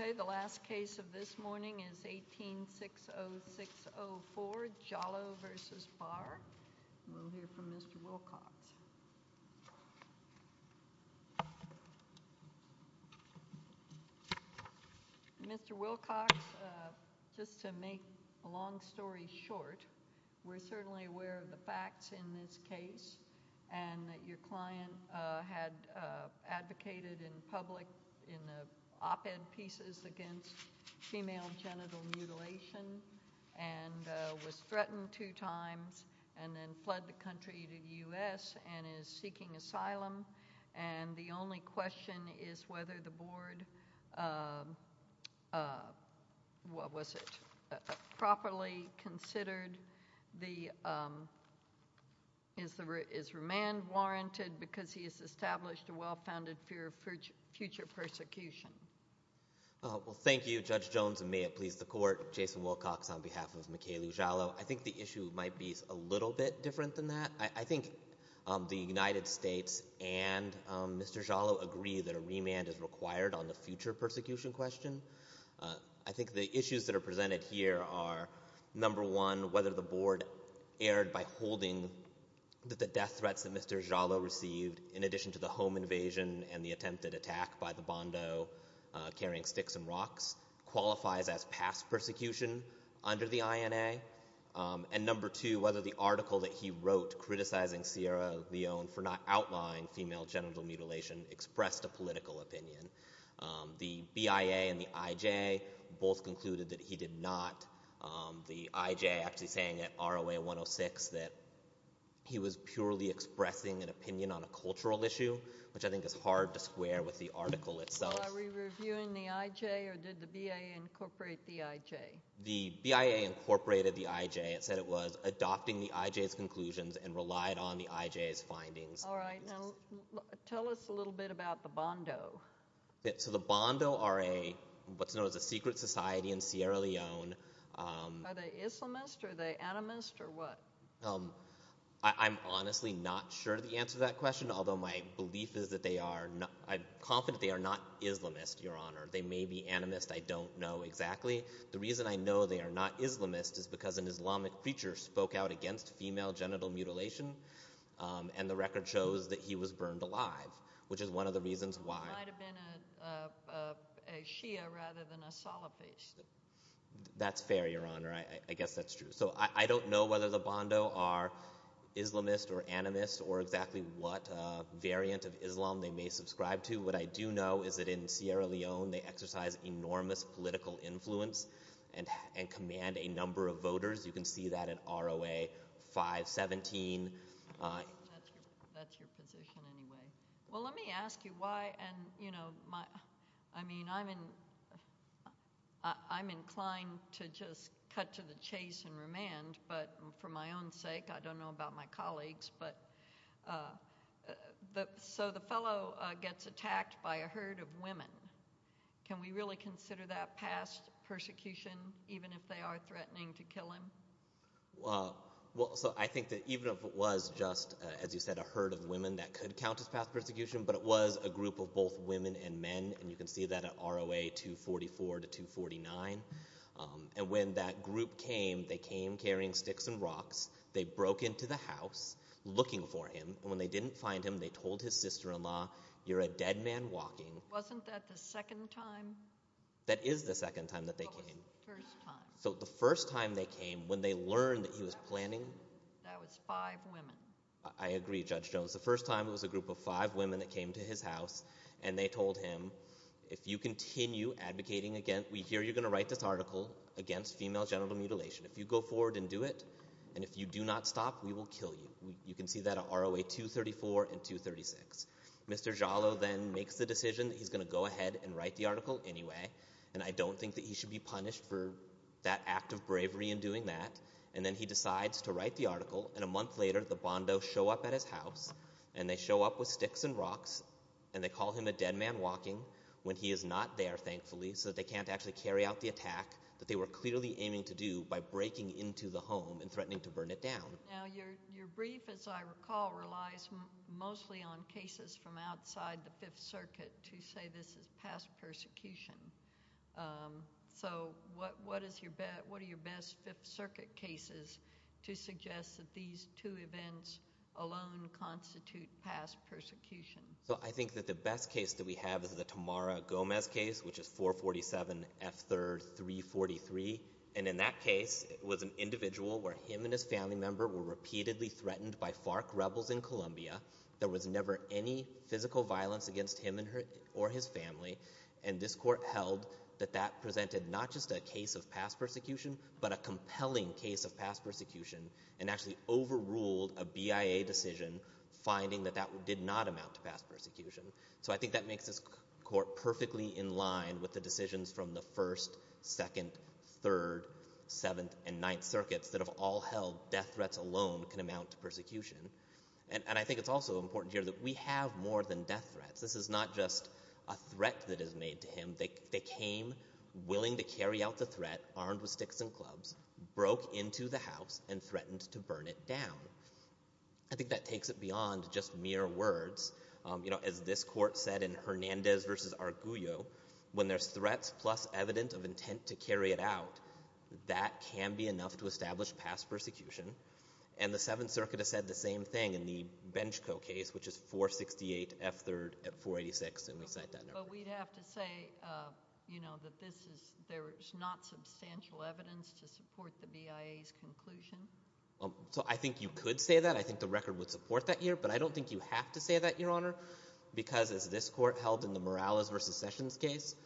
Okay, the last case of this morning is 18-60604, Jalloh v. Barr. We'll hear from Mr. Wilcox. Mr. Wilcox, just to make a long story short, we're certainly aware of the facts in this case and that your client had advocated in public in the op-ed pieces against female genital mutilation and was threatened two times and then fled the country to the U.S. And is seeking asylum, and the only question is whether the board, what was it, properly considered, is remand warranted because he has established a well-founded fear of future persecution? Well, thank you, Judge Jones, and may it please the Court, Jason Wilcox on behalf of Mikailu Jalloh. I think the issue might be a little bit different than that. I think the United States and Mr. Jalloh agree that a remand is required on the future persecution question. I think the issues that are presented here are, number one, whether the board erred by holding that the death threats that Mr. Jalloh received, in addition to the home invasion and the attempted attack by the Bondo carrying sticks and rocks, qualifies as past persecution under the INA, and number two, whether the article that he wrote criticizing Sierra Leone for not outlawing female genital mutilation expressed a political opinion. The BIA and the IJ both concluded that he did not. The IJ actually saying at ROA 106 that he was purely expressing an opinion on a cultural issue, which I think is hard to square with the article itself. Are we reviewing the IJ or did the BIA incorporate the IJ? The BIA incorporated the IJ. It said it was adopting the IJ's conclusions and relied on the IJ's findings. Tell us a little bit about the Bondo. The Bondo are what's known as a secret society in Sierra Leone. Are they Islamist? Are they animist? I'm honestly not sure the answer to that question, although my belief is that they are. I'm confident they are not Islamist, Your Honor. They may be animist. I don't know exactly. The reason I know they are not Islamist is because an Islamic preacher spoke out against female genital mutilation, and the record shows that he was burned alive, which is one of the reasons why. He might have been a Shia rather than a Salafist. That's fair, Your Honor. I guess that's true. I don't know whether the Bondo are Islamist or animist or exactly what variant of Islam they may subscribe to. What I do know is that in Sierra Leone they exercise enormous political influence and command a number of voters. You can see that in ROA 517. That's your position anyway. Let me ask you why. I'm inclined to just cut to the chase and remand, but for my own sake, I don't know about my colleagues. The fellow gets attacked by a herd of women. Can we really consider that past persecution, even if they are threatening to kill him? I think that even if it was just, as you said, a herd of women, that could count as past persecution, but it was a group of both women and men, and you can see that in ROA 244 to 249. When that group came, they came carrying sticks and rocks. They broke into the house looking for him. When they didn't find him, they told his sister-in-law, you're a dead man walking. Wasn't that the second time? That is the second time that they came. That was the first time. The first time they came, when they learned that he was planning... That was five women. I agree, Judge Jones. The first time it was a group of five women that came to his house, and they told him, if you continue advocating again, we hear you're going to write this article against female genital mutilation. If you go forward and do it, and if you do not stop, we will kill you. You can see that in ROA 234 and 236. Mr. Giallo then makes the decision that he's going to go ahead and write the article anyway, and I don't think that he should be punished for that act of bravery in doing that, and then he decides to write the article, and a month later, the Bondos show up at his house, and they show up with sticks and rocks, and they call him a dead man walking when he is not there, thankfully, so that they can't actually carry out the attack that they were clearly aiming to do by breaking into the home and threatening to burn it down. Now, your brief, as I recall, relies mostly on cases from outside the Fifth Circuit to say this is past persecution. So what are your best Fifth Circuit cases to suggest that these two events alone constitute past persecution? Well, I think that the best case that we have is the Tamara Gomez case, which is 447 F. 3rd 343, and in that case, it was an individual where him and his family member were repeatedly threatened by FARC rebels in Colombia. There was never any physical violence against him or his family, and this court held that that presented not just a case of past persecution but a compelling case of past persecution and actually overruled a BIA decision finding that that did not amount to past persecution. So I think that makes this court perfectly in line with the decisions from the First, Second, Third, Seventh, and Ninth Circuits that have all held death threats alone can amount to persecution. And I think it's also important here that we have more than death threats. This is not just a threat that is made to him. They came willing to carry out the threat, armed with sticks and clubs, broke into the house, and threatened to burn it down. I think that takes it beyond just mere words. You know, as this court said in Hernandez v. Arguello, when there's threats plus evidence of intent to carry it out, that can be enough to establish past persecution. And the Seventh Circuit has said the same thing in the Benchco case, which is 468 F. 3rd 486, and we cite that number. But we'd have to say, you know, that this is not substantial evidence to support the BIA's conclusion. So I think you could say that. I think the record would support that here, but I don't think you have to say that, Your Honor, because as this court held in the Morales v. Sessions case,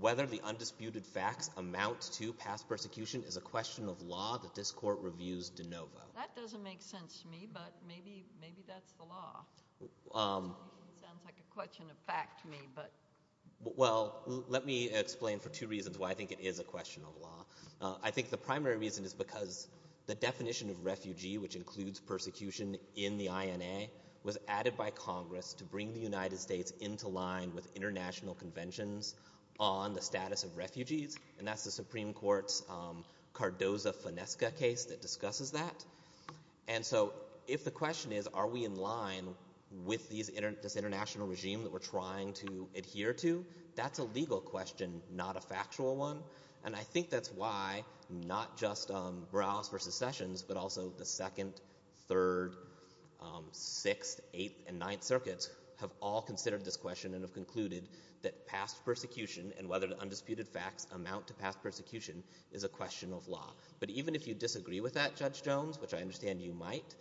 whether the undisputed facts amount to past persecution is a question of law that this court reviews de novo. That doesn't make sense to me, but maybe that's the law. It sounds like a question of fact to me, but... Well, let me explain for two reasons why I think it is a question of law. I think the primary reason is because the definition of refugee, which includes persecution in the INA, was added by Congress to bring the United States into line with international conventions on the status of refugees, and that's the Supreme Court's Cardoza-Fonesca case that discusses that. And so if the question is, are we in line with this international regime that we're trying to adhere to, that's a legal question, not a factual one. And I think that's why not just Morales v. Sessions, but also the Second, Third, Sixth, Eighth, and Ninth Circuits have all considered this question and have concluded that past persecution and whether the undisputed facts amount to past persecution is a question of law. But even if you disagree with that, Judge Jones, which I understand you might,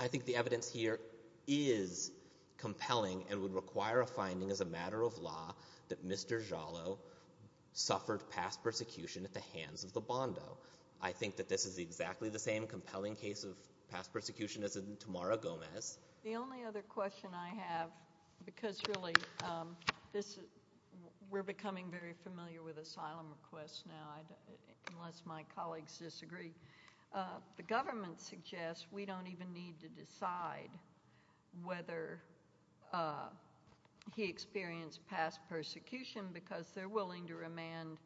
I think the evidence here is compelling and would require a finding as a matter of law that Mr. Giallo suffered past persecution at the hands of the Bondo. I think that this is exactly the same compelling case of past persecution as in Tamara Gomez. The only other question I have, because really we're becoming very familiar with asylum requests now, unless my colleagues disagree, the government suggests we don't even need to decide whether he experienced past persecution because they're willing to remand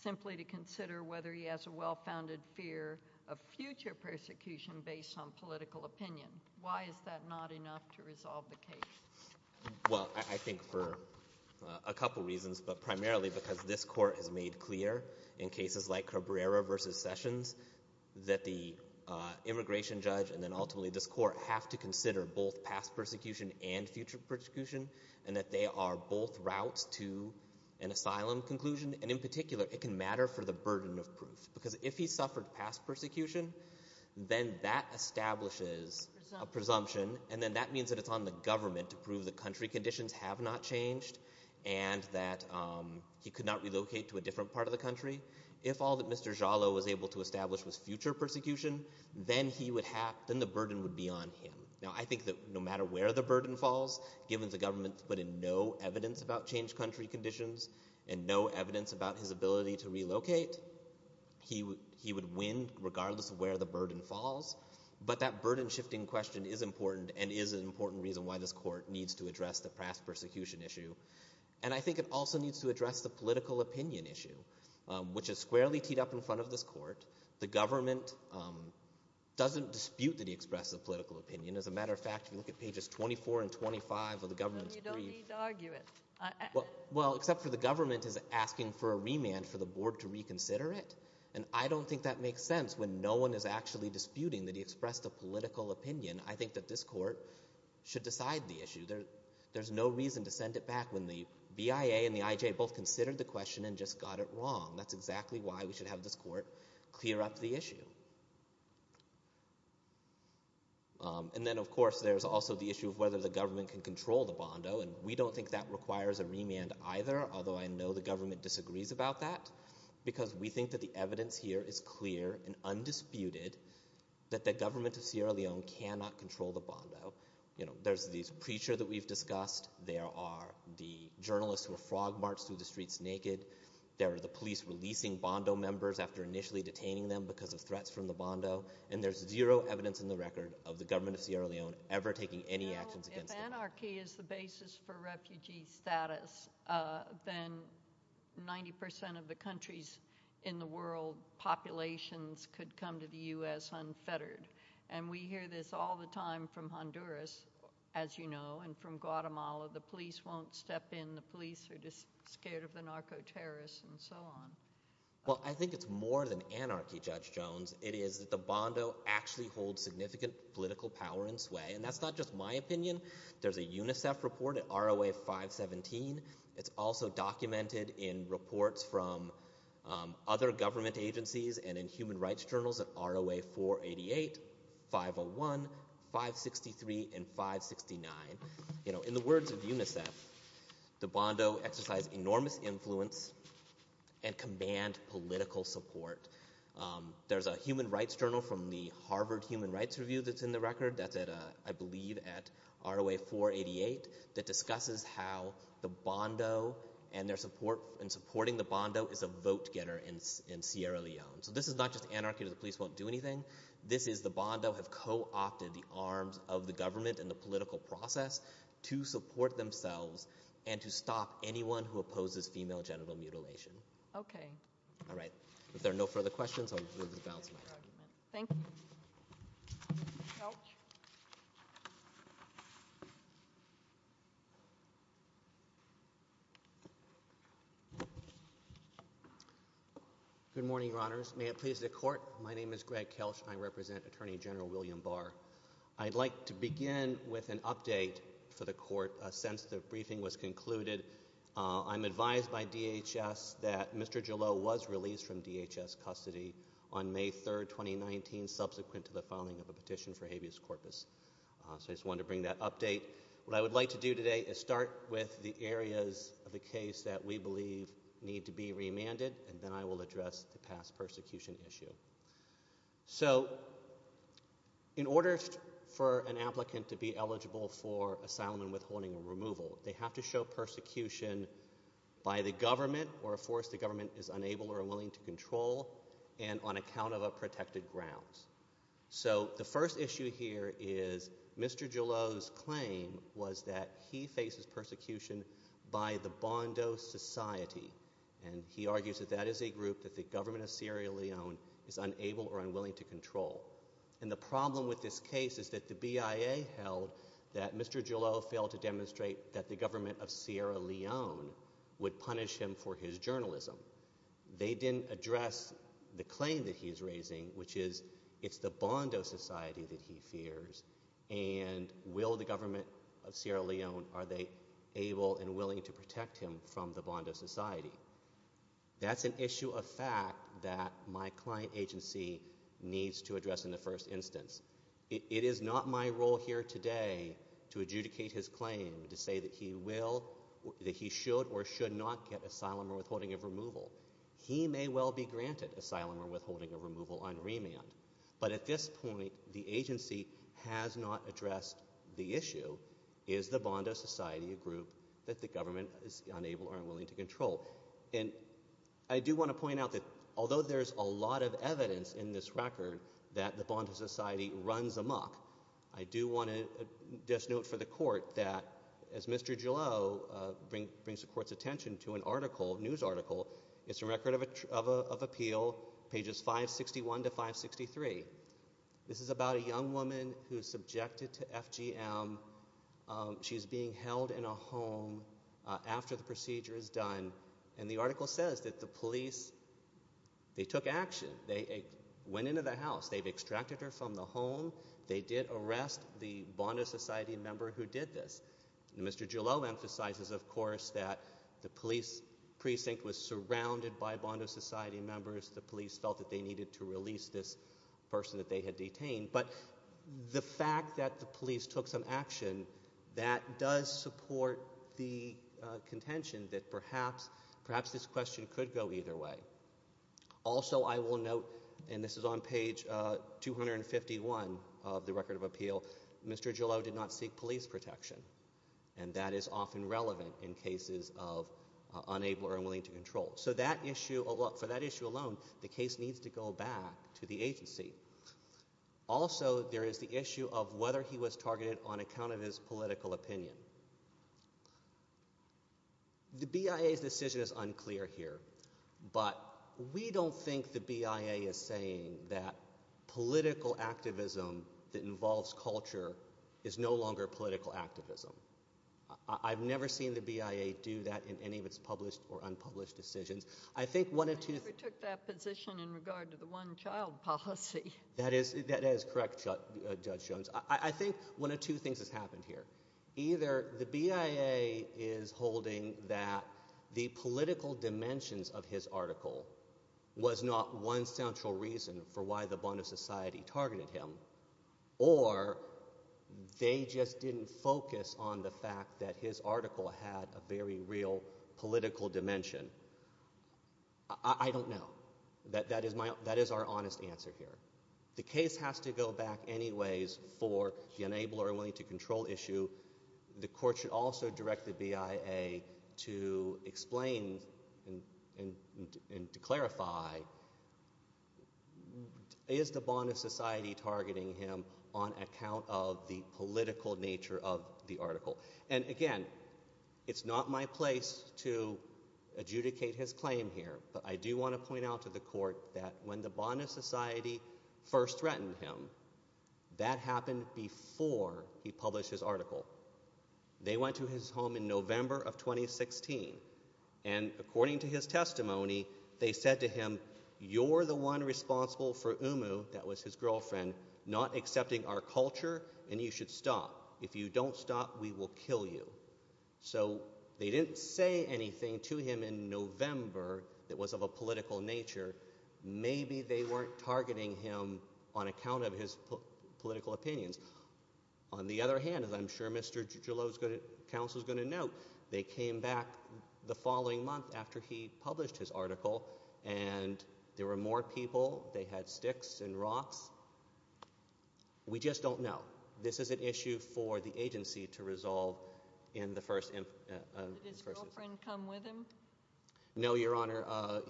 simply to consider whether he has a well-founded fear of future persecution based on political opinion. Why is that not enough to resolve the case? Well, I think for a couple reasons, but primarily because this Court has made clear in cases like Cabrera v. Sessions that the immigration judge and then ultimately this Court have to consider both past persecution and future persecution and that they are both routes to an asylum conclusion. And in particular, it can matter for the burden of proof because if he suffered past persecution, then that establishes a presumption and then that means that it's on the government to prove that country conditions have not changed and that he could not relocate to a different part of the country. If all that Mr. Giallo was able to establish was future persecution, then the burden would be on him. Now, I think that no matter where the burden falls, given the government's put in no evidence about changed country conditions and no evidence about his ability to relocate, he would win regardless of where the burden falls. But that burden-shifting question is important and is an important reason why this Court needs to address the past persecution issue. And I think it also needs to address the political opinion issue, which is squarely teed up in front of this Court. The government doesn't dispute that he expressed a political opinion. As a matter of fact, if you look at pages 24 and 25 of the government's brief... Then you don't need to argue it. Well, except for the government is asking for a remand for the board to reconsider it, and I don't think that makes sense when no one is actually disputing that he expressed a political opinion. I think that this Court should decide the issue. There's no reason to send it back when the BIA and the IJ both considered the question and just got it wrong. That's exactly why we should have this Court clear up the issue. And then, of course, there's also the issue of whether the government can control the bondo, and we don't think that requires a remand either, although I know the government disagrees about that, because we think that the evidence here is clear and undisputed that the government of Sierra Leone cannot control the bondo. You know, there's this preacher that we've discussed. There are the journalists who are frog march through the streets naked. There are the police releasing bondo members after initially detaining them because of threats from the bondo, and there's zero evidence in the record of the government of Sierra Leone ever taking any actions against them. Well, if anarchy is the basis for refugee status, then 90% of the countries in the world populations could come to the U.S. unfettered, and we hear this all the time from Honduras, as you know, and from Guatemala. The police won't step in. The police are just scared of the narco-terrorists and so on. Well, I think it's more than anarchy, Judge Jones. It is that the bondo actually holds significant political power in sway, and that's not just my opinion. There's a UNICEF report at ROA 517. It's also documented in reports from other government agencies and in human rights journals at ROA 488, 501, 563, and 569. You know, in the words of UNICEF, the bondo exercise enormous influence and command political support. There's a human rights journal from the Harvard Human Rights Review that's in the record. That's at, I believe, at ROA 488 that discusses how the bondo and their support and supporting the bondo is a vote-getter in Sierra Leone. So this is not just anarchy that the police won't do anything. This is the bondo have co-opted the arms of the government and the political process to support themselves and to stop anyone who opposes female genital mutilation. Okay. All right. If there are no further questions, I'll move the balance of my time. Thank you. Nope. Okay. Good morning, Your Honors. May it please the court, my name is Greg Kelsch. I represent Attorney General William Barr. I'd like to begin with an update for the court. Since the briefing was concluded, I'm advised by DHS that Mr. Gillow was released from DHS custody on May 3, 2019, which is subsequent to the filing of a petition for habeas corpus. So I just wanted to bring that update. What I would like to do today is start with the areas of the case that we believe need to be remanded, and then I will address the past persecution issue. So in order for an applicant to be eligible for asylum and withholding or removal, they have to show persecution by the government or a force the government is unable or unwilling to control and on account of a protected grounds. So the first issue here is Mr. Gillow's claim was that he faces persecution by the Bondo Society, and he argues that that is a group that the government of Sierra Leone is unable or unwilling to control. And the problem with this case is that the BIA held that Mr. Gillow failed to demonstrate that the government of Sierra Leone would punish him for his journalism. They didn't address the claim that he's raising, which is it's the Bondo Society that he fears, and will the government of Sierra Leone, are they able and willing to protect him from the Bondo Society? That's an issue of fact that my client agency needs to address in the first instance. It is not my role here today to adjudicate his claim to say that he will, that he should or should not get asylum or withholding of removal. He may well be granted asylum or withholding of removal on remand, but at this point the agency has not addressed the issue, is the Bondo Society a group that the government is unable or unwilling to control? And I do want to point out that although there's a lot of evidence in this record that the Bondo Society runs amok, I do want to just note for the court that as Mr. Gillow brings the court's attention to an article, news article, it's a record of appeal, pages 561 to 563. This is about a young woman who's subjected to FGM. She's being held in a home after the procedure is done, and the article says that the police, they took action. They went into the house. They've extracted her from the home. They did arrest the Bondo Society member who did this. Mr. Gillow emphasizes, of course, that the police precinct was surrounded by Bondo Society members. The police felt that they needed to release this person that they had detained, but the fact that the police took some action, that does support the contention that perhaps this question could go either way. Also, I will note, and this is on page 251 of the record of appeal, Mr. Gillow did not seek police protection, and that is often relevant in cases of unable or unwilling to control. So for that issue alone, the case needs to go back to the agency. Also, there is the issue of whether he was targeted on account of his political opinion. The BIA's decision is unclear here, but we don't think the BIA is saying that political activism that involves culture is no longer political activism. I've never seen the BIA do that in any of its published or unpublished decisions. I think one of two... I never took that position in regard to the one-child policy. That is correct, Judge Jones. I think one of two things has happened here. Either the BIA is holding that the political dimensions of his article was not one central reason for why the Bondo Society targeted him, or they just didn't focus on the fact that his article had a very real political dimension. I don't know. That is our honest answer here. The case has to go back anyways for the unable or unwilling to control issue. The court should also direct the BIA to explain and to clarify... Is the Bondo Society targeting him on account of the political nature of the article? And again, it's not my place to adjudicate his claim here, but I do want to point out to the court that when the Bondo Society first threatened him, that happened before he published his article. They went to his home in November of 2016, and according to his testimony, they said to him, you're the one responsible for Umu, that was his girlfriend, not accepting our culture, and you should stop. If you don't stop, we will kill you. So they didn't say anything to him in November that was of a political nature. Maybe they weren't targeting him on account of his political opinions. On the other hand, as I'm sure Mr. Gillot's counsel is going to note, they came back the following month after he published his article, and there were more people, they had sticks and rocks. We just don't know. This is an issue for the agency to resolve in the first... Did his girlfriend come with him? No, Your Honour.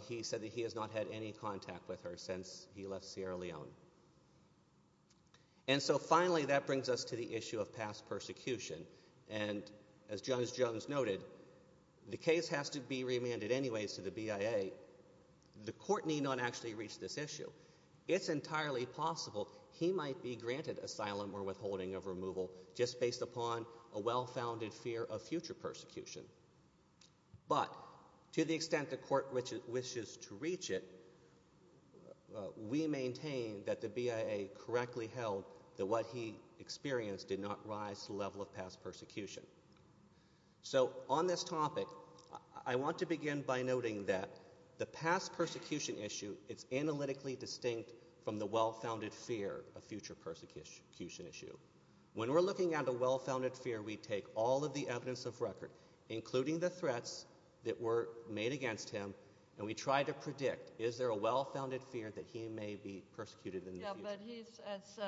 He said that he has not had any contact with her since he left Sierra Leone. And so finally, that brings us to the issue of past persecution. And as Judge Jones noted, the case has to be remanded anyways to the BIA, the court need not actually reach this issue. It's entirely possible he might be granted asylum or withholding of removal just based upon a well-founded fear of future persecution. But to the extent the court wishes to reach it, we maintain that the BIA correctly held that what he experienced did not rise to the level of past persecution. So on this topic, I want to begin by noting that the past persecution issue, it's analytically distinct from the well-founded fear of future persecution issue. When we're looking at a well-founded fear, we take all of the evidence of record, including the threats that were made against him, and we try to predict, is there a well-founded fear that he may be persecuted in the future? Yeah, but he's... As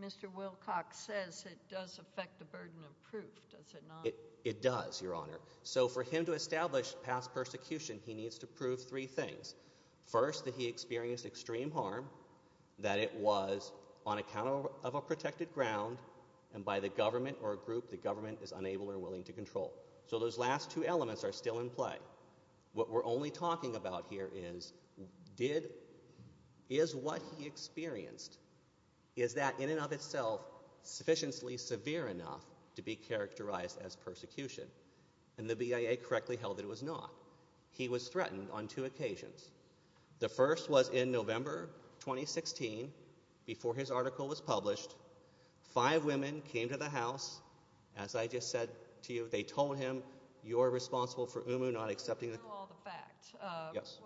Mr. Wilcox says, it does affect the burden of proof, does it not? It does, Your Honour. So for him to establish past persecution, he needs to prove three things. First, that he experienced extreme harm, that it was on account of a protected ground, and by the government or a group the government is unable or willing to control. So those last two elements are still in play. What we're only talking about here is, is what he experienced, is that, in and of itself, sufficiently severe enough to be characterized as persecution? And the BIA correctly held that it was not. He was threatened on two occasions. The first was in November 2016, before his article was published. Five women came to the House. As I just said to you, they told him, you're responsible for Umu not accepting the... You know all the facts. Yes.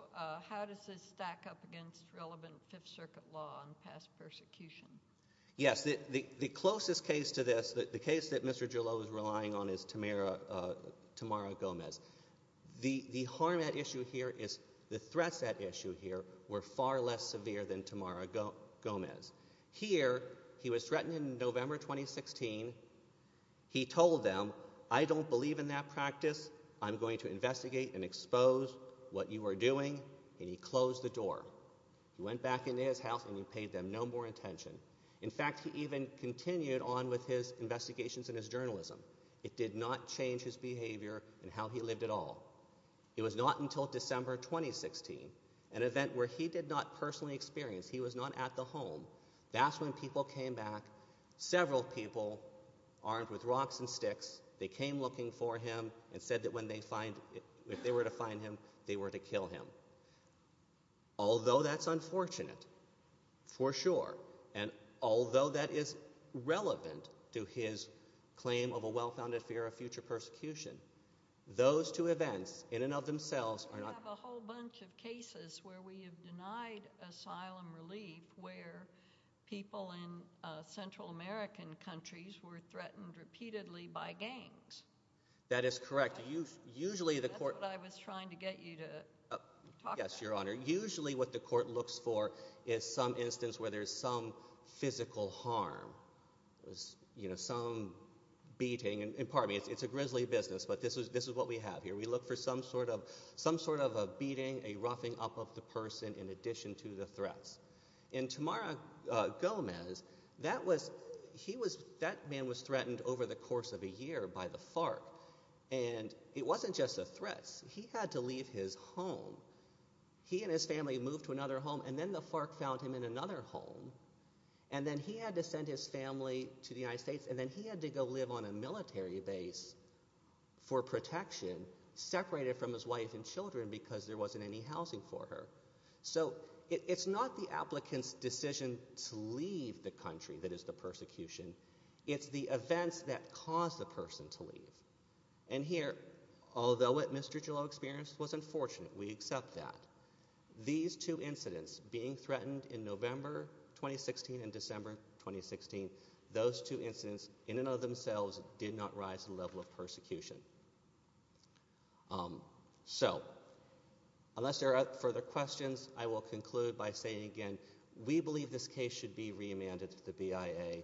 How does this stack up against relevant Fifth Circuit law on past persecution? Yes, the closest case to this, the case that Mr. Gillot was relying on is Tamara Gomez. The harm at issue here is... The threats at issue here were far less severe than Tamara Gomez. Here, he was threatened in November 2016. He told them, I don't believe in that practice. I'm going to investigate and expose what you are doing. And he closed the door. He went back into his house and he paid them no more attention. In fact, he even continued on with his investigations and his journalism. It did not change his behavior and how he lived at all. It was not until December 2016, an event where he did not personally experience, he was not at the home, that's when people came back, several people, armed with rocks and sticks, they came looking for him and said that if they were to find him, they were to kill him. Although that's unfortunate, for sure, and although that is relevant to his claim of a well-founded fear of future persecution, those two events, in and of themselves, are not... We have a whole bunch of cases where we have denied asylum relief where people in Central American countries were threatened repeatedly by gangs. That is correct. That's what I was trying to get you to talk about. Yes, Your Honor. Usually what the court looks for is some instance where there's some physical harm. You know, some beating. And pardon me, it's a grisly business, but this is what we have here. We look for some sort of a beating, a roughing up of the person in addition to the threats. In Tamara Gomez, that man was threatened over the course of a year by the FARC, and it wasn't just the threats. He had to leave his home. He and his family moved to another home, and then the FARC found him in another home, and then he had to send his family to the United States, and then he had to go live on a military base for protection, separated from his wife and children because there wasn't any housing for her. So it's not the applicant's decision to leave the country that is the persecution. It's the events that caused the person to leave. And here, although it, Mr. Jullo experienced, was unfortunate. We accept that. These two incidents, being threatened in November 2016 and December 2016, those two incidents in and of themselves did not rise to the level of persecution. So... unless there are further questions, I will conclude by saying again we believe this case should be remanded to the BIA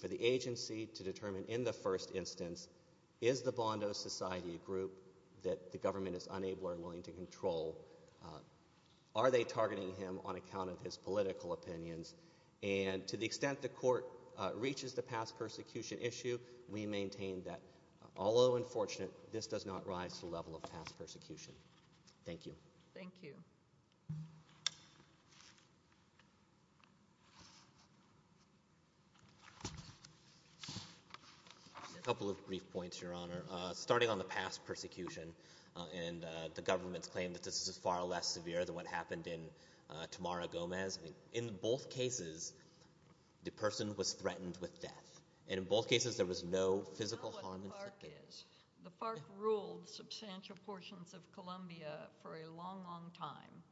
for the agency to determine in the first instance is the Bondo Society a group that the government is unable or willing to control? Are they targeting him on account of his political opinions? And to the extent the court reaches the past persecution issue, we maintain that, although unfortunate, this does not rise to the level of past persecution. Thank you. A couple of brief points, Your Honor. Starting on the past persecution, and the government's claim that this is far less severe than what happened in Tamara Gomez. In both cases, the person was threatened with death. And in both cases, there was no physical harm inflicted. I know what the FARC is. The FARC ruled substantial portions of Colombia for a long, long time.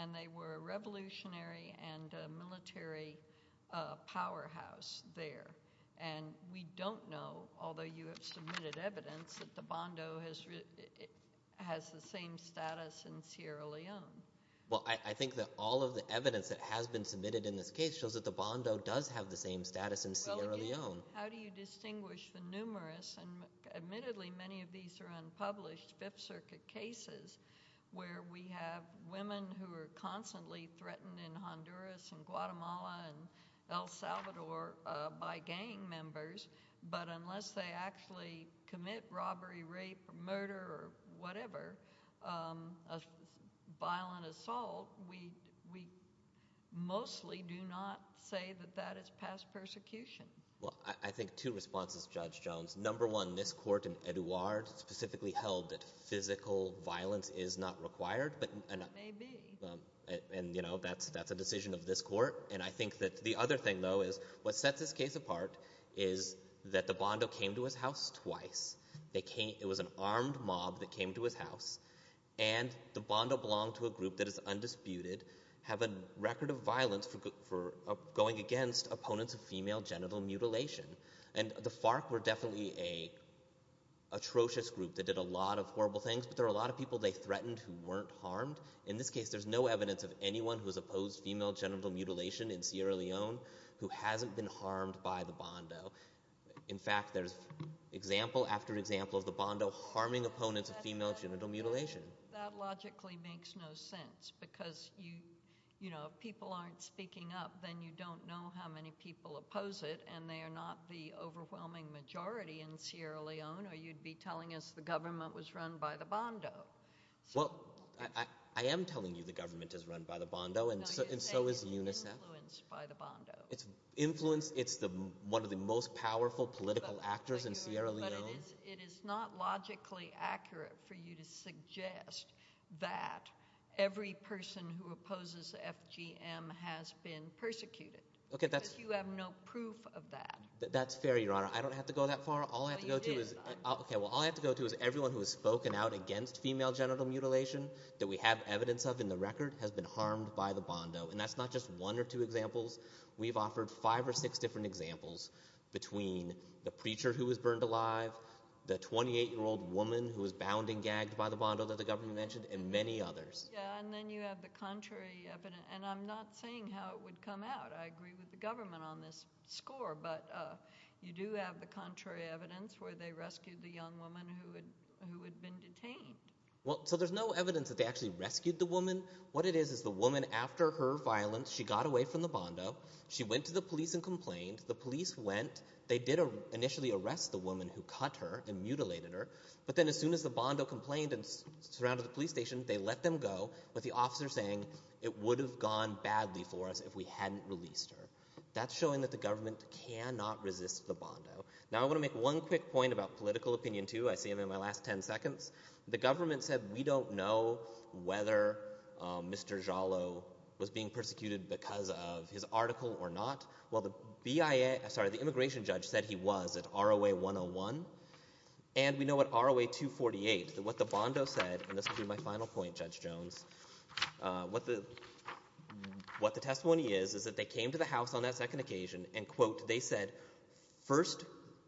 And they were a revolutionary and a military powerhouse there. And we don't know, although you have submitted evidence, that the Bondo has... has the same status in Sierra Leone. Well, I think that all of the evidence that has been submitted in this case shows that the Bondo does have the same status in Sierra Leone. How do you distinguish the numerous, and admittedly many of these are unpublished, Fifth Circuit cases where we have women who are constantly threatened in Honduras and Guatemala and El Salvador by gang members, but unless they actually commit robbery, rape, murder, or whatever, violent assault, we mostly do not say that that is past persecution. Well, I think two responses, Judge Jones. Number one, this court in Edouard specifically held that physical violence is not required. It may be. And, you know, that's a decision of this court. And I think that the other thing, though, is what sets this case apart is that the Bondo came to his house twice. It was an armed mob that came to his house. And the Bondo belonged to a group that is undisputed, have a record of violence for going against opponents of female genital mutilation. And the FARC were definitely an atrocious group that did a lot of horrible things, but there were a lot of people they threatened who weren't harmed. In this case, there's no evidence of anyone who has opposed female genital mutilation in Sierra Leone who hasn't been harmed by the Bondo. In fact, there's example after example of the Bondo harming opponents of female genital mutilation. That logically makes no sense, because, you know, if people aren't speaking up, then you don't know how many people oppose it, and they are not the overwhelming majority in Sierra Leone, or you'd be telling us the government was run by the Bondo. Well, I am telling you the government is run by the Bondo, and so is UNICEF. No, you're saying it's influenced by the Bondo. It's influenced. It's one of the most powerful political actors in Sierra Leone. It is not logically accurate for you to suggest that every person who opposes FGM has been persecuted, because you have no proof of that. That's fair, Your Honor. I don't have to go that far. All I have to go to is... Okay, well, all I have to go to is everyone who has spoken out against female genital mutilation that we have evidence of in the record has been harmed by the Bondo, and that's not just one or two examples. We've offered five or six different examples between the preacher who was burned alive, the 28-year-old woman who was bound and gagged by the Bondo that the government mentioned, and many others. Yeah, and then you have the contrary evidence, and I'm not saying how it would come out. I agree with the government on this score, but you do have the contrary evidence where they rescued the young woman who had been detained. Well, so there's no evidence that they actually rescued the woman. What it is is the woman, after her violence, she got away from the Bondo. She went to the police and complained. The police went. They did initially arrest the woman who cut her and mutilated her, but then as soon as the Bondo complained and surrounded the police station, they let them go, with the officer saying, it would have gone badly for us if we hadn't released her. That's showing that the government cannot resist the Bondo. Now, I want to make one quick point about political opinion, too. I see him in my last ten seconds. The government said, we don't know whether Mr. Giallo was being persecuted because of his article or not. Well, the BIA... Sorry, the immigration judge said he was at ROA 101. And we know at ROA 248 that what the Bondo said, and this will be my final point, Judge Jones, what the testimony is, is that they came to the House on that second occasion and, quote, they said, first,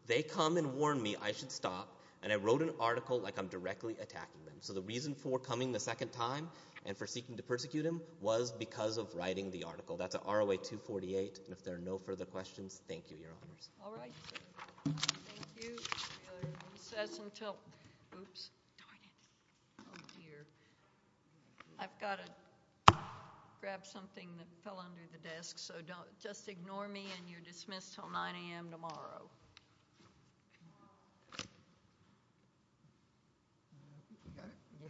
they come and warn me I should stop, and I wrote an article like I'm directly attacking them. So the reason for coming the second time and for seeking to persecute him was because of writing the article. That's at ROA 248. And if there are no further questions, thank you, Your Honors. All right. Thank you. It says until... Oops. Darn it. Oh, dear. I've got to grab something that fell under the desk, so just ignore me, and you're dismissed till 9 a.m. tomorrow.